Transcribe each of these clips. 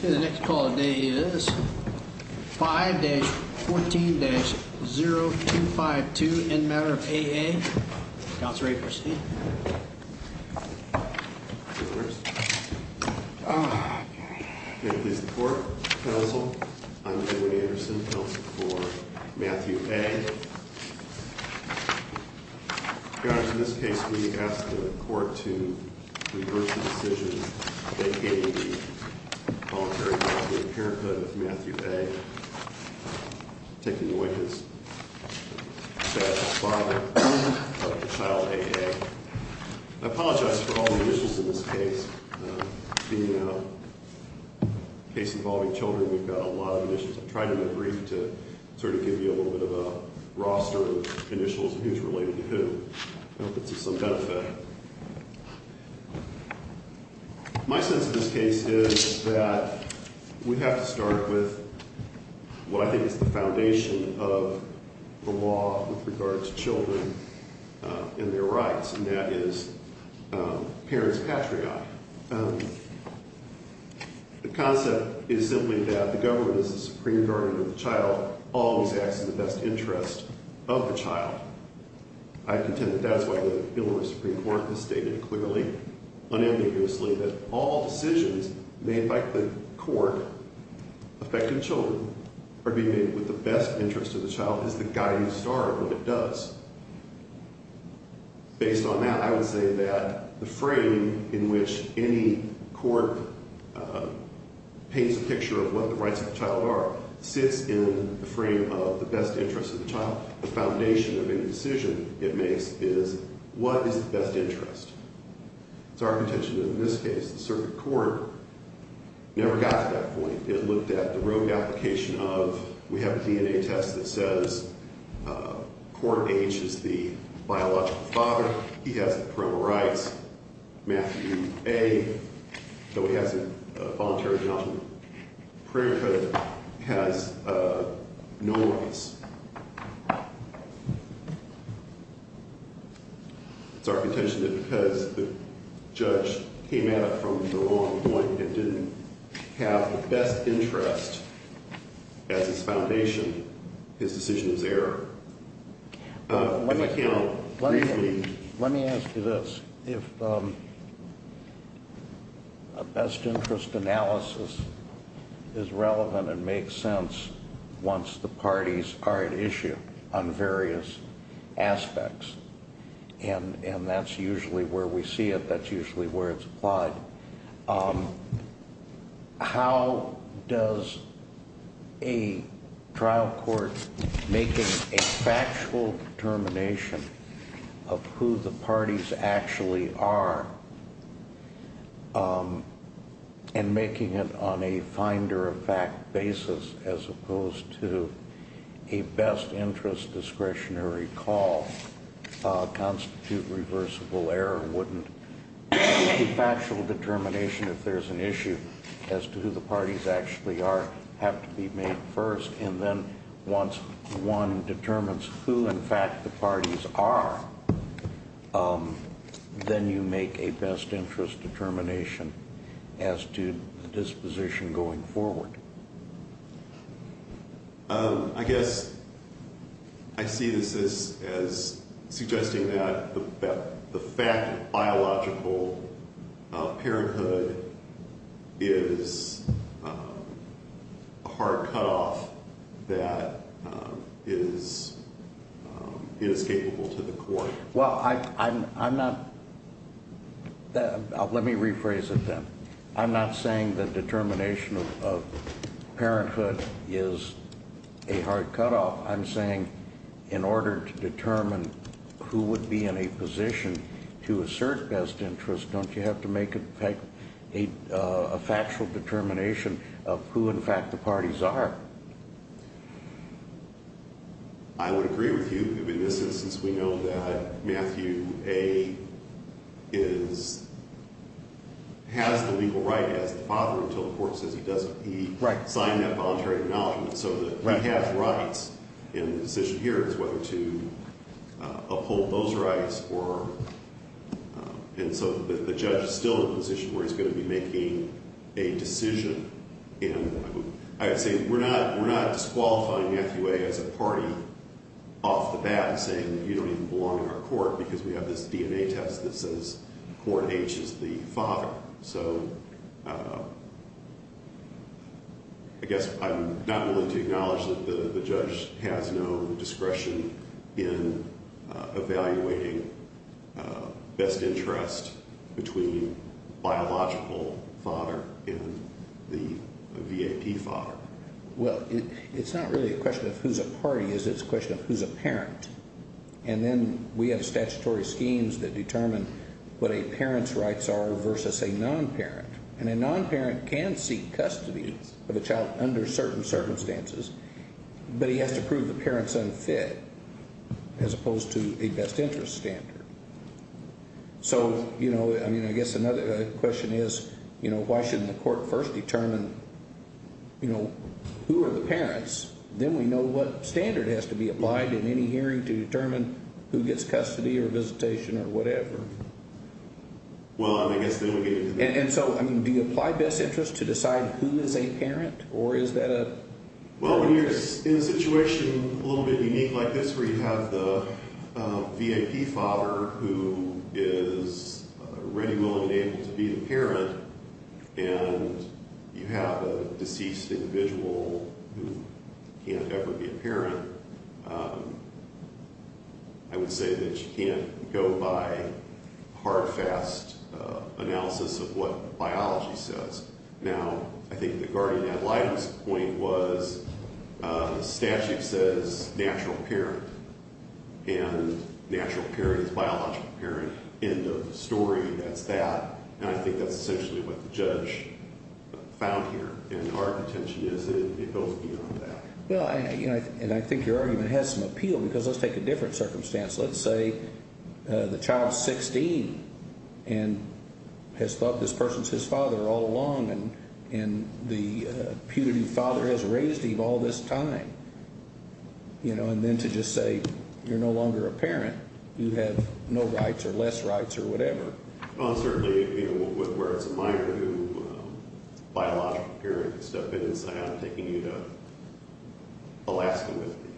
The next call of the day is 5-14-0252 in Matter of A.A., Counselor Aperstein. May it please the Court, Counsel, I'm Edwin Anderson, Counsel for Matthew A. Your Honor, in this case we ask the Court to reverse the decision that gave the voluntary I apologize for all the issues in this case. Being a case involving children, we've got a lot of issues. I'm trying to be brief to sort of give you a little bit of a roster of initials and who's related to who. I hope it's of some benefit. My sense of this case is that we have to start with what I think is the foundation of the law with regard to children and their rights, and that is parents' patriarch. The concept is simply that the government is the supreme guardian of the child, always acts in the best interest of the child. I contend that that's why the Illinois Supreme Court has stated clearly, unambiguously, that all decisions made by the court affecting children are being made with the best interest of the child as the guiding star of what it does. Based on that, I would say that the frame in which any court paints a picture of what the rights of the child are sits in the frame of the best interest of the child. The foundation of any decision it makes is what is the best interest. It's our contention that in this case the circuit court never got to that point. It looked at the rogue application of we have a DNA test that says court H is the biological father. He has the parental rights. Matthew A, though he has a voluntary adoption prayer code, has no rights. It's our contention that because the judge came at it from the wrong point and didn't have the best interest as its foundation, his decision was error. Let me ask you this. If a best interest analysis is relevant and makes sense once the parties are at issue on various aspects, and that's usually where we see it, that's usually where it's applied, how does a trial court making a factual determination of who the parties actually are and making it on a finder of fact basis as opposed to a best interest discretionary call constitute reversible error? Wouldn't a factual determination if there's an issue as to who the parties actually are have to be made first? And then once one determines who, in fact, the parties are, then you make a best interest determination as to the disposition going forward. I guess I see this as suggesting that the fact of biological parenthood is a hard cutoff that is inescapable to the court. Well, I'm not – let me rephrase it then. I'm not saying that determination of parenthood is a hard cutoff. I'm saying in order to determine who would be in a position to assert best interest, don't you have to make a factual determination of who, in fact, the parties are? I would agree with you. In this instance, we know that Matthew A. has the legal right as the father until the court says he doesn't. He signed that voluntary acknowledgment. So he has rights. And the decision here is whether to uphold those rights or – and so the judge is still in a position where he's going to be making a decision. And I would say we're not disqualifying Matthew A. as a party off the bat and saying you don't even belong in our court because we have this DNA test that says Court H is the father. So I guess I'm not willing to acknowledge that the judge has no discretion in evaluating best interest between biological father and the VAP father. Well, it's not really a question of who's a party. It's a question of who's a parent. And then we have statutory schemes that determine what a parent's rights are versus a non-parent. And a non-parent can seek custody of a child under certain circumstances, but he has to prove the parent's unfit as opposed to a best interest standard. So, you know, I mean, I guess another question is, you know, why shouldn't the court first determine, you know, who are the parents? Then we know what standard has to be applied in any hearing to determine who gets custody or visitation or whatever. Well, I mean, I guess then we get into the – And so, I mean, do you apply best interest to decide who is a parent or is that a – Well, when you're in a situation a little bit unique like this where you have the VAP father who is ready, willing, and able to be the parent and you have a deceased individual who can't ever be a parent, I would say that you can't go by hard, fast analysis of what biology says. Now, I think the guardian ad litem's point was statute says natural parent, and natural parent is biological parent, end of story, that's that. And I think that's essentially what the judge found here. And our intention is it goes beyond that. Well, and I think your argument has some appeal because let's take a different circumstance. Let's say the child's 16 and has thought this person's his father all along, and the putative father has raised him all this time, you know, and then to just say you're no longer a parent, you have no rights or less rights or whatever. Well, certainly, you know, where it's a minor who – biological parent can step in and say, I'm taking you to Alaska with me.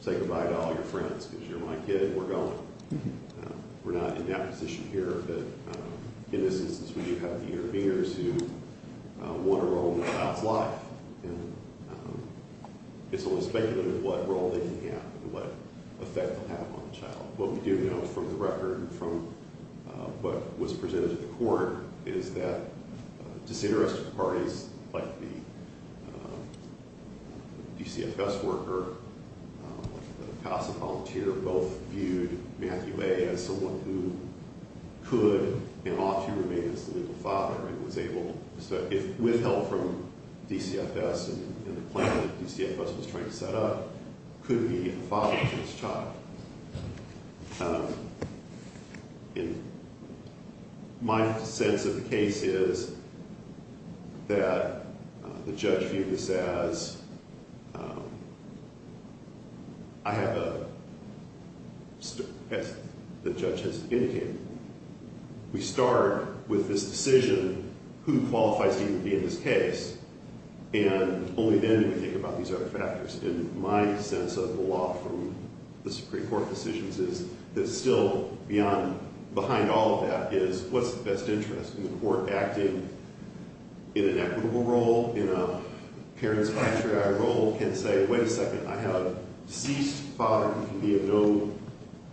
Say goodbye to all your friends because you're my kid and we're going. We're not in that position here, but in this instance we do have the interveners who want a role in the child's life. And it's only speculative what role they can have and what effect they'll have on the child. What we do know from the record and from what was presented to the court is that disinterested parties like the DCFS worker, the CASA volunteer, both viewed Matthew A. as someone who could and ought to remain as the legal father and was able – if withheld from DCFS in the plan that DCFS was trying to set up, could be a father to this child. My sense of the case is that the judge viewed this as I have a – as the judge has indicated. We start with this decision. Who qualifies to even be in this case? And only then do we think about these other factors. And my sense of the law from the Supreme Court decisions is that still beyond – behind all of that is what's the best interest? And the court acting in an equitable role, in a parent's patriarchal role, can say, wait a second, I have a deceased father who can be of no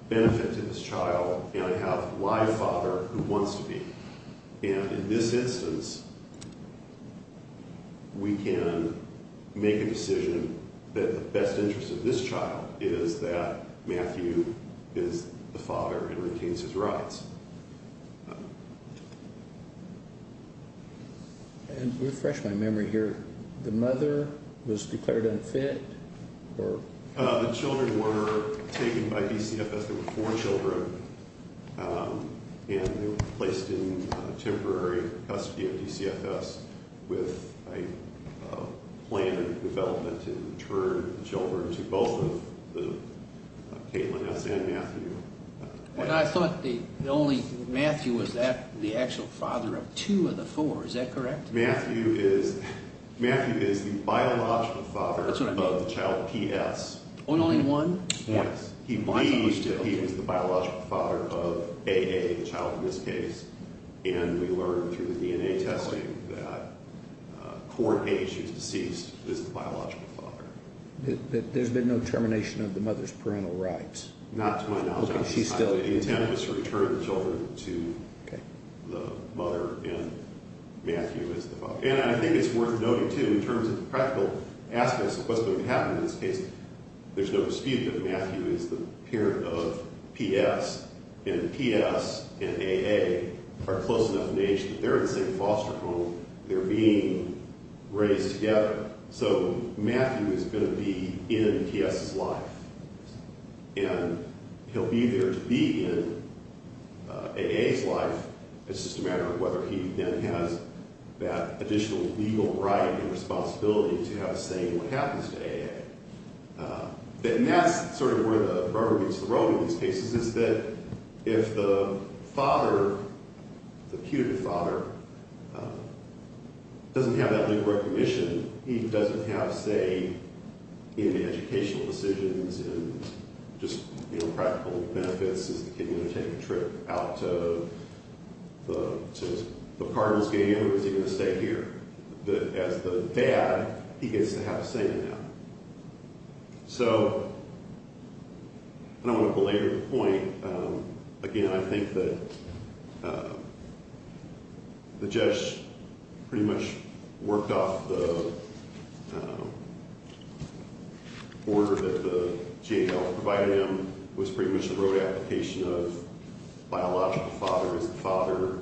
benefit to this child, and I have a live father who wants to be. And in this instance, we can make a decision that the best interest of this child is that Matthew is the father and retains his rights. And to refresh my memory here, the mother was declared unfit? The children were taken by DCFS. There were four children, and they were placed in temporary custody of DCFS with a plan in development to intern the children to both of the – Caitlin S. and Matthew. Well, I thought the only – Matthew was the actual father of two of the four. Is that correct? Matthew is – Matthew is the biological father of the child P.S. Only one? Yes. He believes that he was the biological father of A.A., the child in this case. And we learned through the DNA testing that Court A, she's deceased, is the biological father. There's been no termination of the mother's parental rights? Not to my knowledge. Okay. She's still – The intent is to return the children to the mother, and Matthew is the father. And I think it's worth noting, too, in terms of the practical aspects of what's going to happen in this case, there's no dispute that Matthew is the parent of P.S., and P.S. and A.A. are close enough in age that they're in the same foster home. They're being raised together. So Matthew is going to be in P.S.'s life, and he'll be there to be in A.A.'s life. It's just a matter of whether he then has that additional legal right and responsibility to have a say in what happens to A.A. And that's sort of where the rubber meets the road in these cases is that if the father, the putative father, doesn't have that legal recognition, he doesn't have, say, any educational decisions and just practical benefits. Is the kid going to take a trip out to his partner's game, or is he going to stay here? As the dad, he gets to have a say in that. So I don't want to belabor the point. Again, I think that the judge pretty much worked off the order that the GAO provided him. It was pretty much a road application of biological father is the father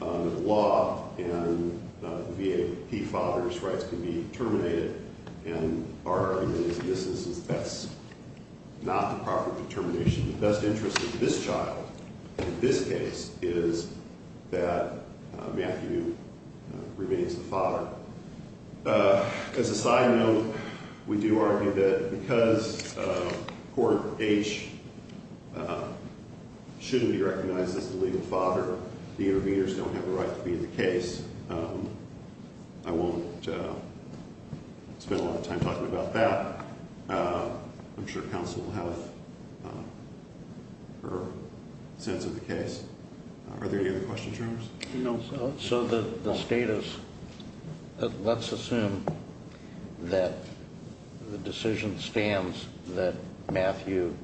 under the law, and the VAP father's rights can be terminated. And our argument is that that's not the proper determination. The best interest of this child in this case is that Matthew remains the father. As a side note, we do argue that because Court H shouldn't be recognized as the legal father, the interveners don't have a right to be in the case. I won't spend a lot of time talking about that. I'm sure counsel will have her sense of the case. Are there any other questions or comments? No. So the status, let's assume that the decision stands that Matthew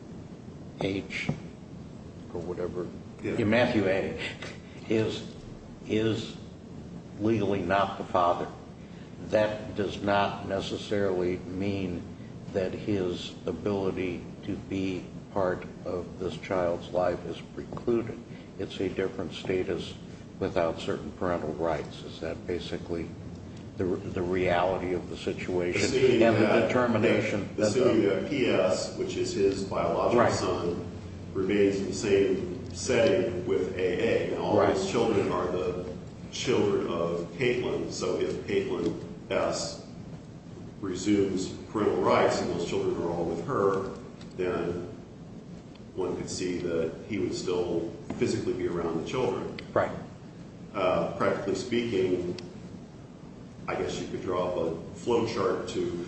H or whatever, Matthew H is legally not the father. That does not necessarily mean that his ability to be part of this child's life is precluded. It's a different status without certain parental rights. Is that basically the reality of the situation and the determination? The city PS, which is his biological son, remains in the same setting with AA. Now, all those children are the children of Caitlin. So if Caitlin S resumes parental rights and those children are all with her, then one could see that he would still physically be around the children. Right. Practically speaking, I guess you could draw up a flow chart to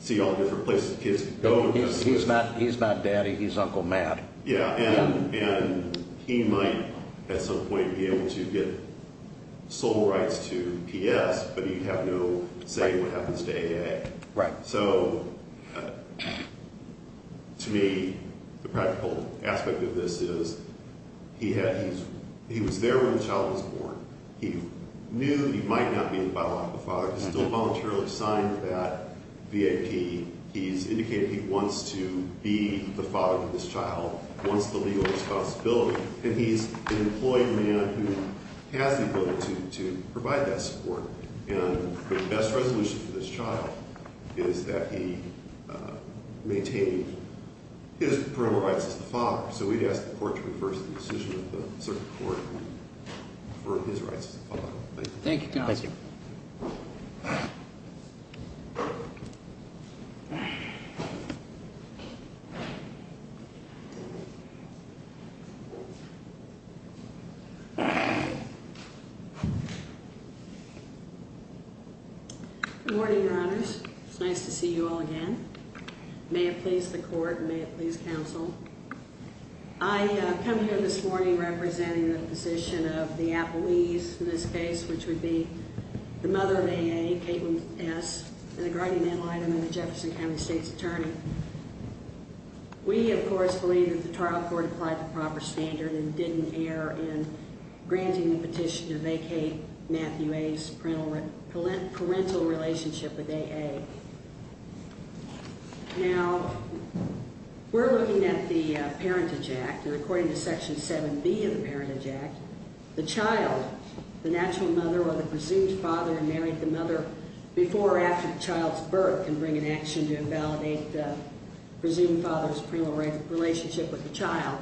see all the different places kids go. He's not daddy. He's Uncle Matt. Yeah. And he might at some point be able to get sole rights to PS, but he'd have no say in what happens to AA. Right. So to me, the practical aspect of this is he was there when the child was born. He knew he might not be the father. He's still voluntarily assigned that VAP. He's indicated he wants to be the father of this child, wants the legal responsibility. And he's an employed man who has the ability to provide that support. And the best resolution for this child is that he maintain his parental rights as the father. So we'd ask the court to reverse the decision of the circuit court for his rights as the father. Thank you. Thank you. Thank you. Good morning, Your Honors. It's nice to see you all again. May it please the court and may it please counsel. I come here this morning representing the position of the appellees in this case, which would be the mother of AA, Caitlin S., and the guardian animal item in the Jefferson County State's attorney. We, of course, believe that the trial court applied the proper standard and didn't err in granting the petition to vacate Matthew A.'s parental relationship with AA. Now, we're looking at the Parentage Act, and according to Section 7B of the Parentage Act, the child, the natural mother or the presumed father who married the mother before or after the child's birth can bring an action to invalidate the presumed father's parental relationship with the child.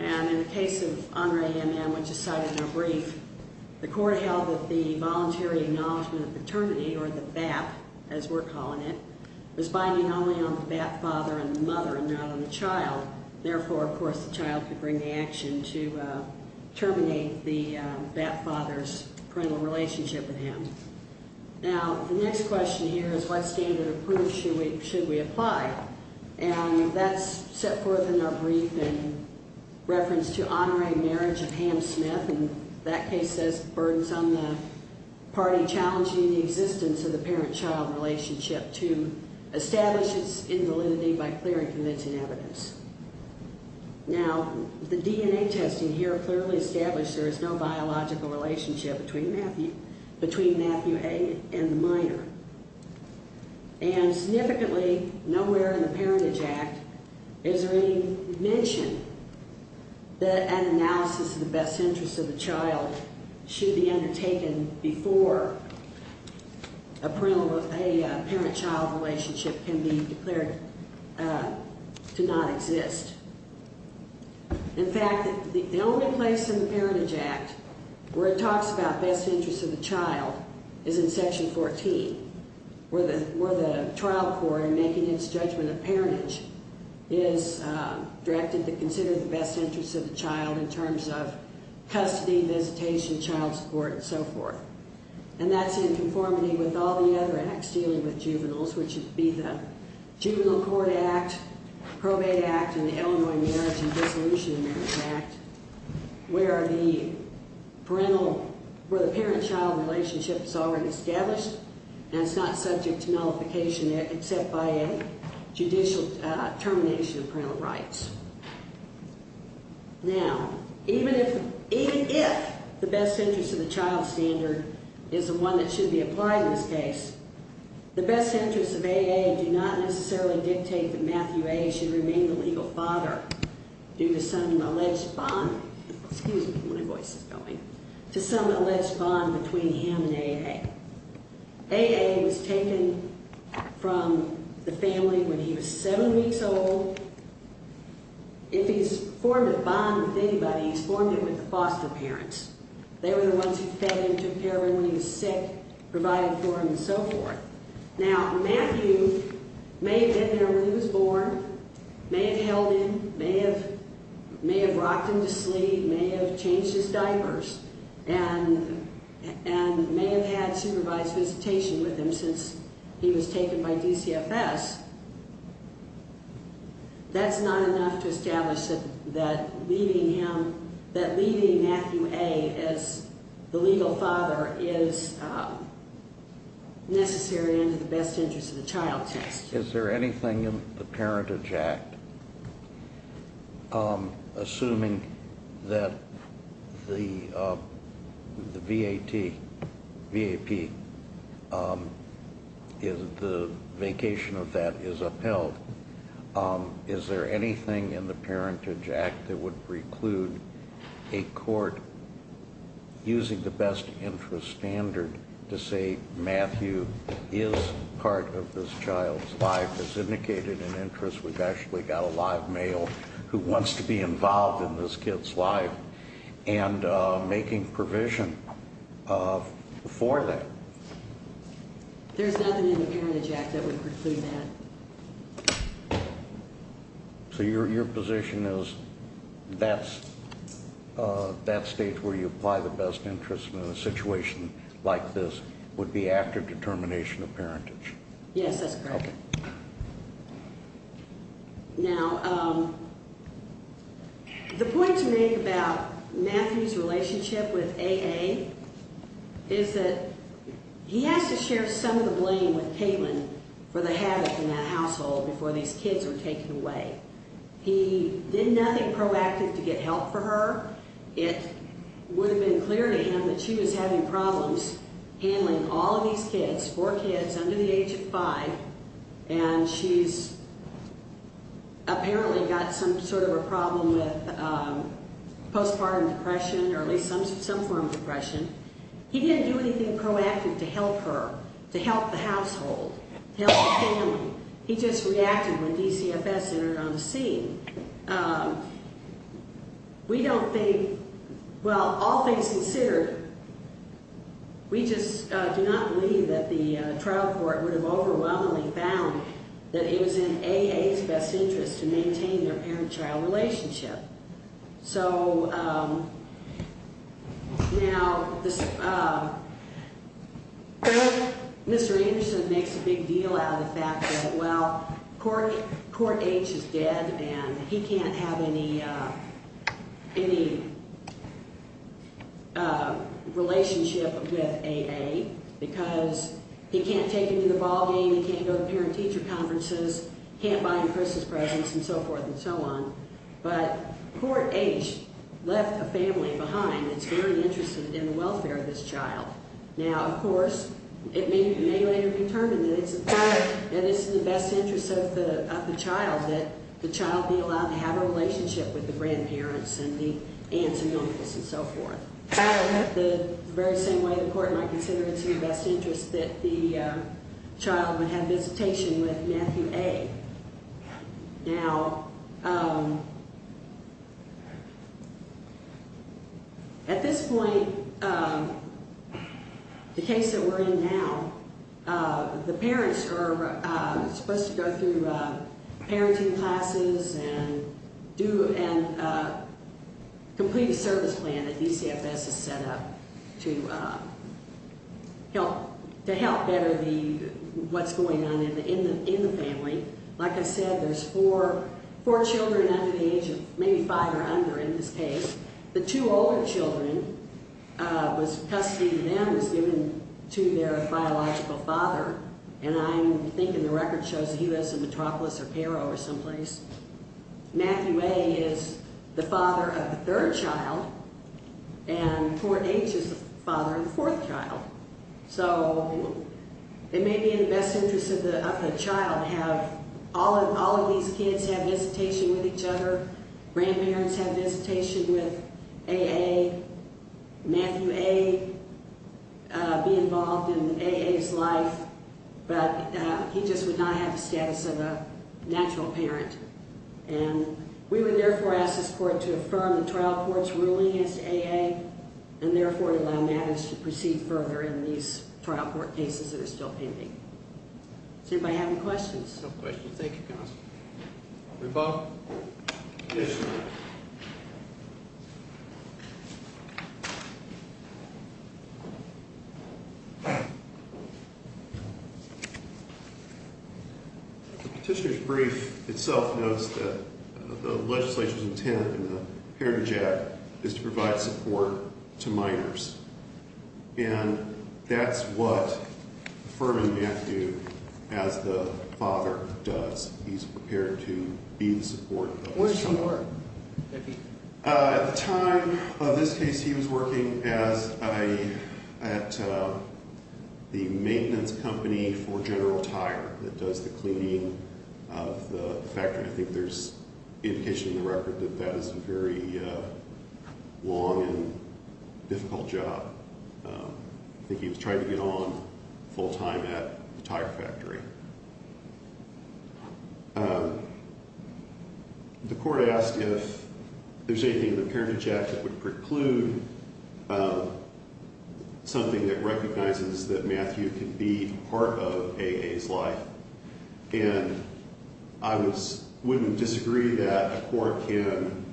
And in the case of Andre MM, which is cited in our brief, the court held that the voluntary acknowledgment of paternity, or the BAP as we're calling it, was binding only on the BAP father and the mother and not on the child. Therefore, of course, the child could bring the action to terminate the BAP father's parental relationship with him. Now, the next question here is what standard of proof should we apply? And that's set forth in our brief in reference to Andre's marriage to Pam Smith, and that case says the burden's on the party challenging the existence of the parent-child relationship to establish its invalidity by clear and convincing evidence. Now, the DNA testing here clearly established there is no biological relationship between Matthew A. and the minor. And significantly, nowhere in the Parentage Act is there any mention that an analysis of the best interests of the child should be undertaken before a parent-child relationship can be declared to not exist. In fact, the only place in the Parentage Act where it talks about best interests of the child is in Section 14, where the trial court, in making its judgment of parentage, is directed to consider the best interests of the child in terms of custody, visitation, child support, and so forth. And that's in conformity with all the other acts dealing with juveniles, which would be the Juvenile Court Act, Probate Act, and the Illinois Marriage and Dissolution of Marriage Act, where the parental, where the parent-child relationship is already established and it's not subject to nullification except by a judicial termination of parental rights. Now, even if the best interests of the child standard is the one that should be applied in this case, the best interests of A.A. do not necessarily dictate that Matthew A. should remain the legal father due to some alleged bond between him and A.A. A.A. was taken from the family when he was seven weeks old. If he's formed a bond with anybody, he's formed it with the foster parents. They were the ones who fed him, took care of him when he was sick, provided for him, and so forth. Now, Matthew may have been there when he was born, may have held him, may have rocked him to sleep, may have changed his diapers, and may have had supervised visitation with him since he was taken by DCFS. That's not enough to establish that leaving him, that leaving Matthew A. as the legal father is necessary under the best interests of the child test. Is there anything in the Parentage Act, assuming that the V.A.T., V.A.P., the vacation of that is upheld, is there anything in the Parentage Act that would preclude a court using the best interests standard to say Matthew is part of this child's life? As indicated in interest, we've actually got a live male who wants to be involved in this kid's life and making provision for that. There's nothing in the Parentage Act that would preclude that. So your position is that stage where you apply the best interests in a situation like this would be after determination of parentage? Yes, that's correct. Okay. Now, the point you made about Matthew's relationship with A.A. is that he has to share some of the blame with Caitlin for the havoc in that household before these kids were taken away. He did nothing proactive to get help for her. It would have been clear to him that she was having problems handling all of these kids, four kids under the age of five, and she's apparently got some sort of a problem with postpartum depression or at least some form of depression. He didn't do anything proactive to help her, to help the household, to help the family. He just reacted when DCFS entered on the scene. We don't think, well, all things considered, we just do not believe that the trial court would have overwhelmingly found that it was in A.A.'s best interest to maintain their parent-child relationship. So now Mr. Anderson makes a big deal out of the fact that, well, Court H is dead, and he can't have any relationship with A.A. because he can't take him to the ballgame, he can't go to parent-teacher conferences, can't buy him Christmas presents and so forth and so on. But Court H left a family behind that's very interested in the welfare of this child. Now, of course, it may later be determined that it's in the best interest of the child that the child be allowed to have a relationship with the grandparents and the aunts and uncles and so forth. The very same way the court might consider it's in the best interest that the child have visitation with Matthew A. Now, at this point, the case that we're in now, the parents are supposed to go through parenting classes and complete a service plan that DCFS has set up to help better what's going on in the family. Like I said, there's four children under the age of maybe five or under in this case. The two older children, custody to them was given to their biological father, and I'm thinking the record shows he was a metropolis or paro or someplace. Matthew A. is the father of the third child, and Court H. is the father of the fourth child. So it may be in the best interest of the child to have all of these kids have visitation with each other, grandparents have visitation with A.A., Matthew A. be involved in A.A.'s life, but he just would not have the status of a natural parent. And we would therefore ask this court to affirm the trial court's ruling as A.A., and therefore allow matters to proceed further in these trial court cases that are still pending. Does anybody have any questions? No questions. Thank you, counsel. Report. Petitioner. Petitioner's brief itself notes that the legislature's intent in the Heritage Act is to provide support to minors, and that's what Furman Matthew, as the father, does. He's prepared to be the support of those minors. Where does he work? At the time of this case, he was working at the maintenance company for General Tire that does the cleaning of the factory. I think there's indication in the record that that is a very long and difficult job. I think he was trying to get on full time at the tire factory. The court asked if there's anything in the Heritage Act that would preclude something that recognizes that Matthew can be part of A.A.'s life. And I wouldn't disagree that a court can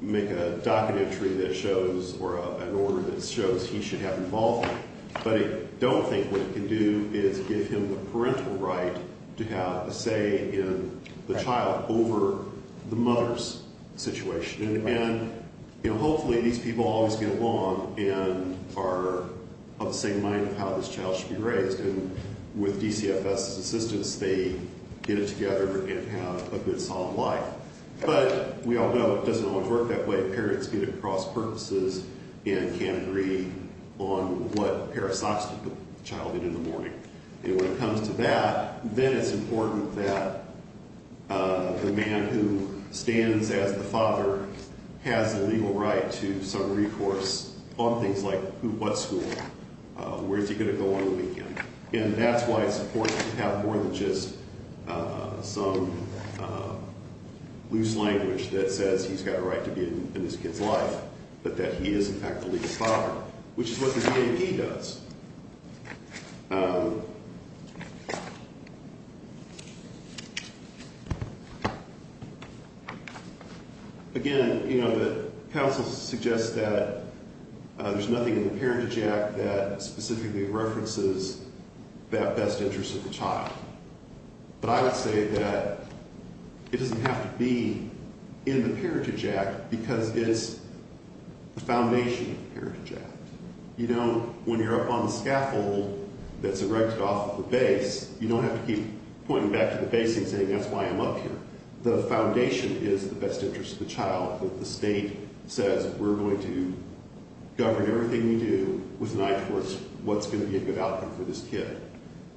make a docket entry that shows or an order that shows he should have involvement, but I don't think what it can do is give him the parental right to have a say in the child over the mother's situation. And, you know, hopefully these people always get along and are of the same mind of how this child should be raised. And with DCFS's assistance, they get it together and have a good, solid life. But we all know it doesn't always work that way. Parents get it across purposes and can agree on what pair of socks to put the child in in the morning. And when it comes to that, then it's important that the man who stands as the father has the legal right to some recourse on things like what school, where is he going to go on the weekend. And that's why it's important to have more than just some loose language that says he's got a right to be in his kid's life, but that he is in fact the legal father, which is what the DAP does. Again, you know, the counsel suggests that there's nothing in the Parentage Act that specifically references that best interest of the child. But I would say that it doesn't have to be in the Parentage Act because it's the foundation of the Parentage Act. You know, when you're up on the scaffold that's erected off of the base, you don't have to keep pointing back to the base and saying, that's why I'm up here. The foundation is the best interest of the child. The state says we're going to govern everything you do with an eye towards what's going to be a good outcome for this kid.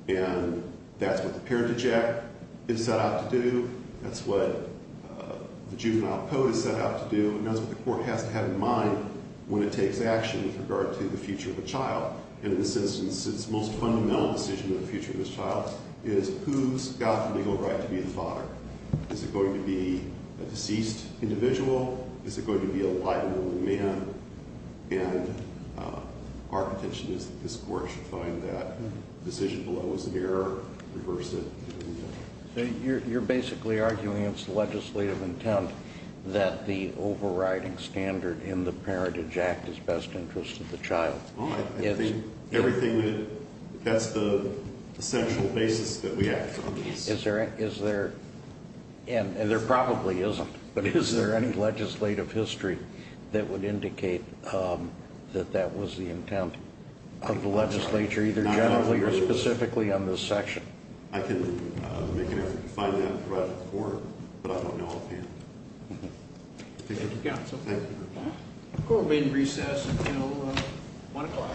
And that's what the Parentage Act is set out to do. That's what the juvenile code is set out to do. And that's what the court has to have in mind when it takes action with regard to the future of a child. And in this instance, its most fundamental decision of the future of this child is who's got the legal right to be a father. Is it going to be a deceased individual? Is it going to be a wide-ranging man? And our contention is that this court should find that decision below is an error, reverse it, and, you know. So you're basically arguing it's the legislative intent that the overriding standard in the Parentage Act is best interest of the child. I think everything that's the central basis that we have. Is there, and there probably isn't, but is there any legislative history that would indicate that that was the intent of the legislature, either generally or specifically on this section? I can make an effort to find that and provide a report, but I don't know offhand. Thank you. Thank you. Court will be in recess until 1 o'clock.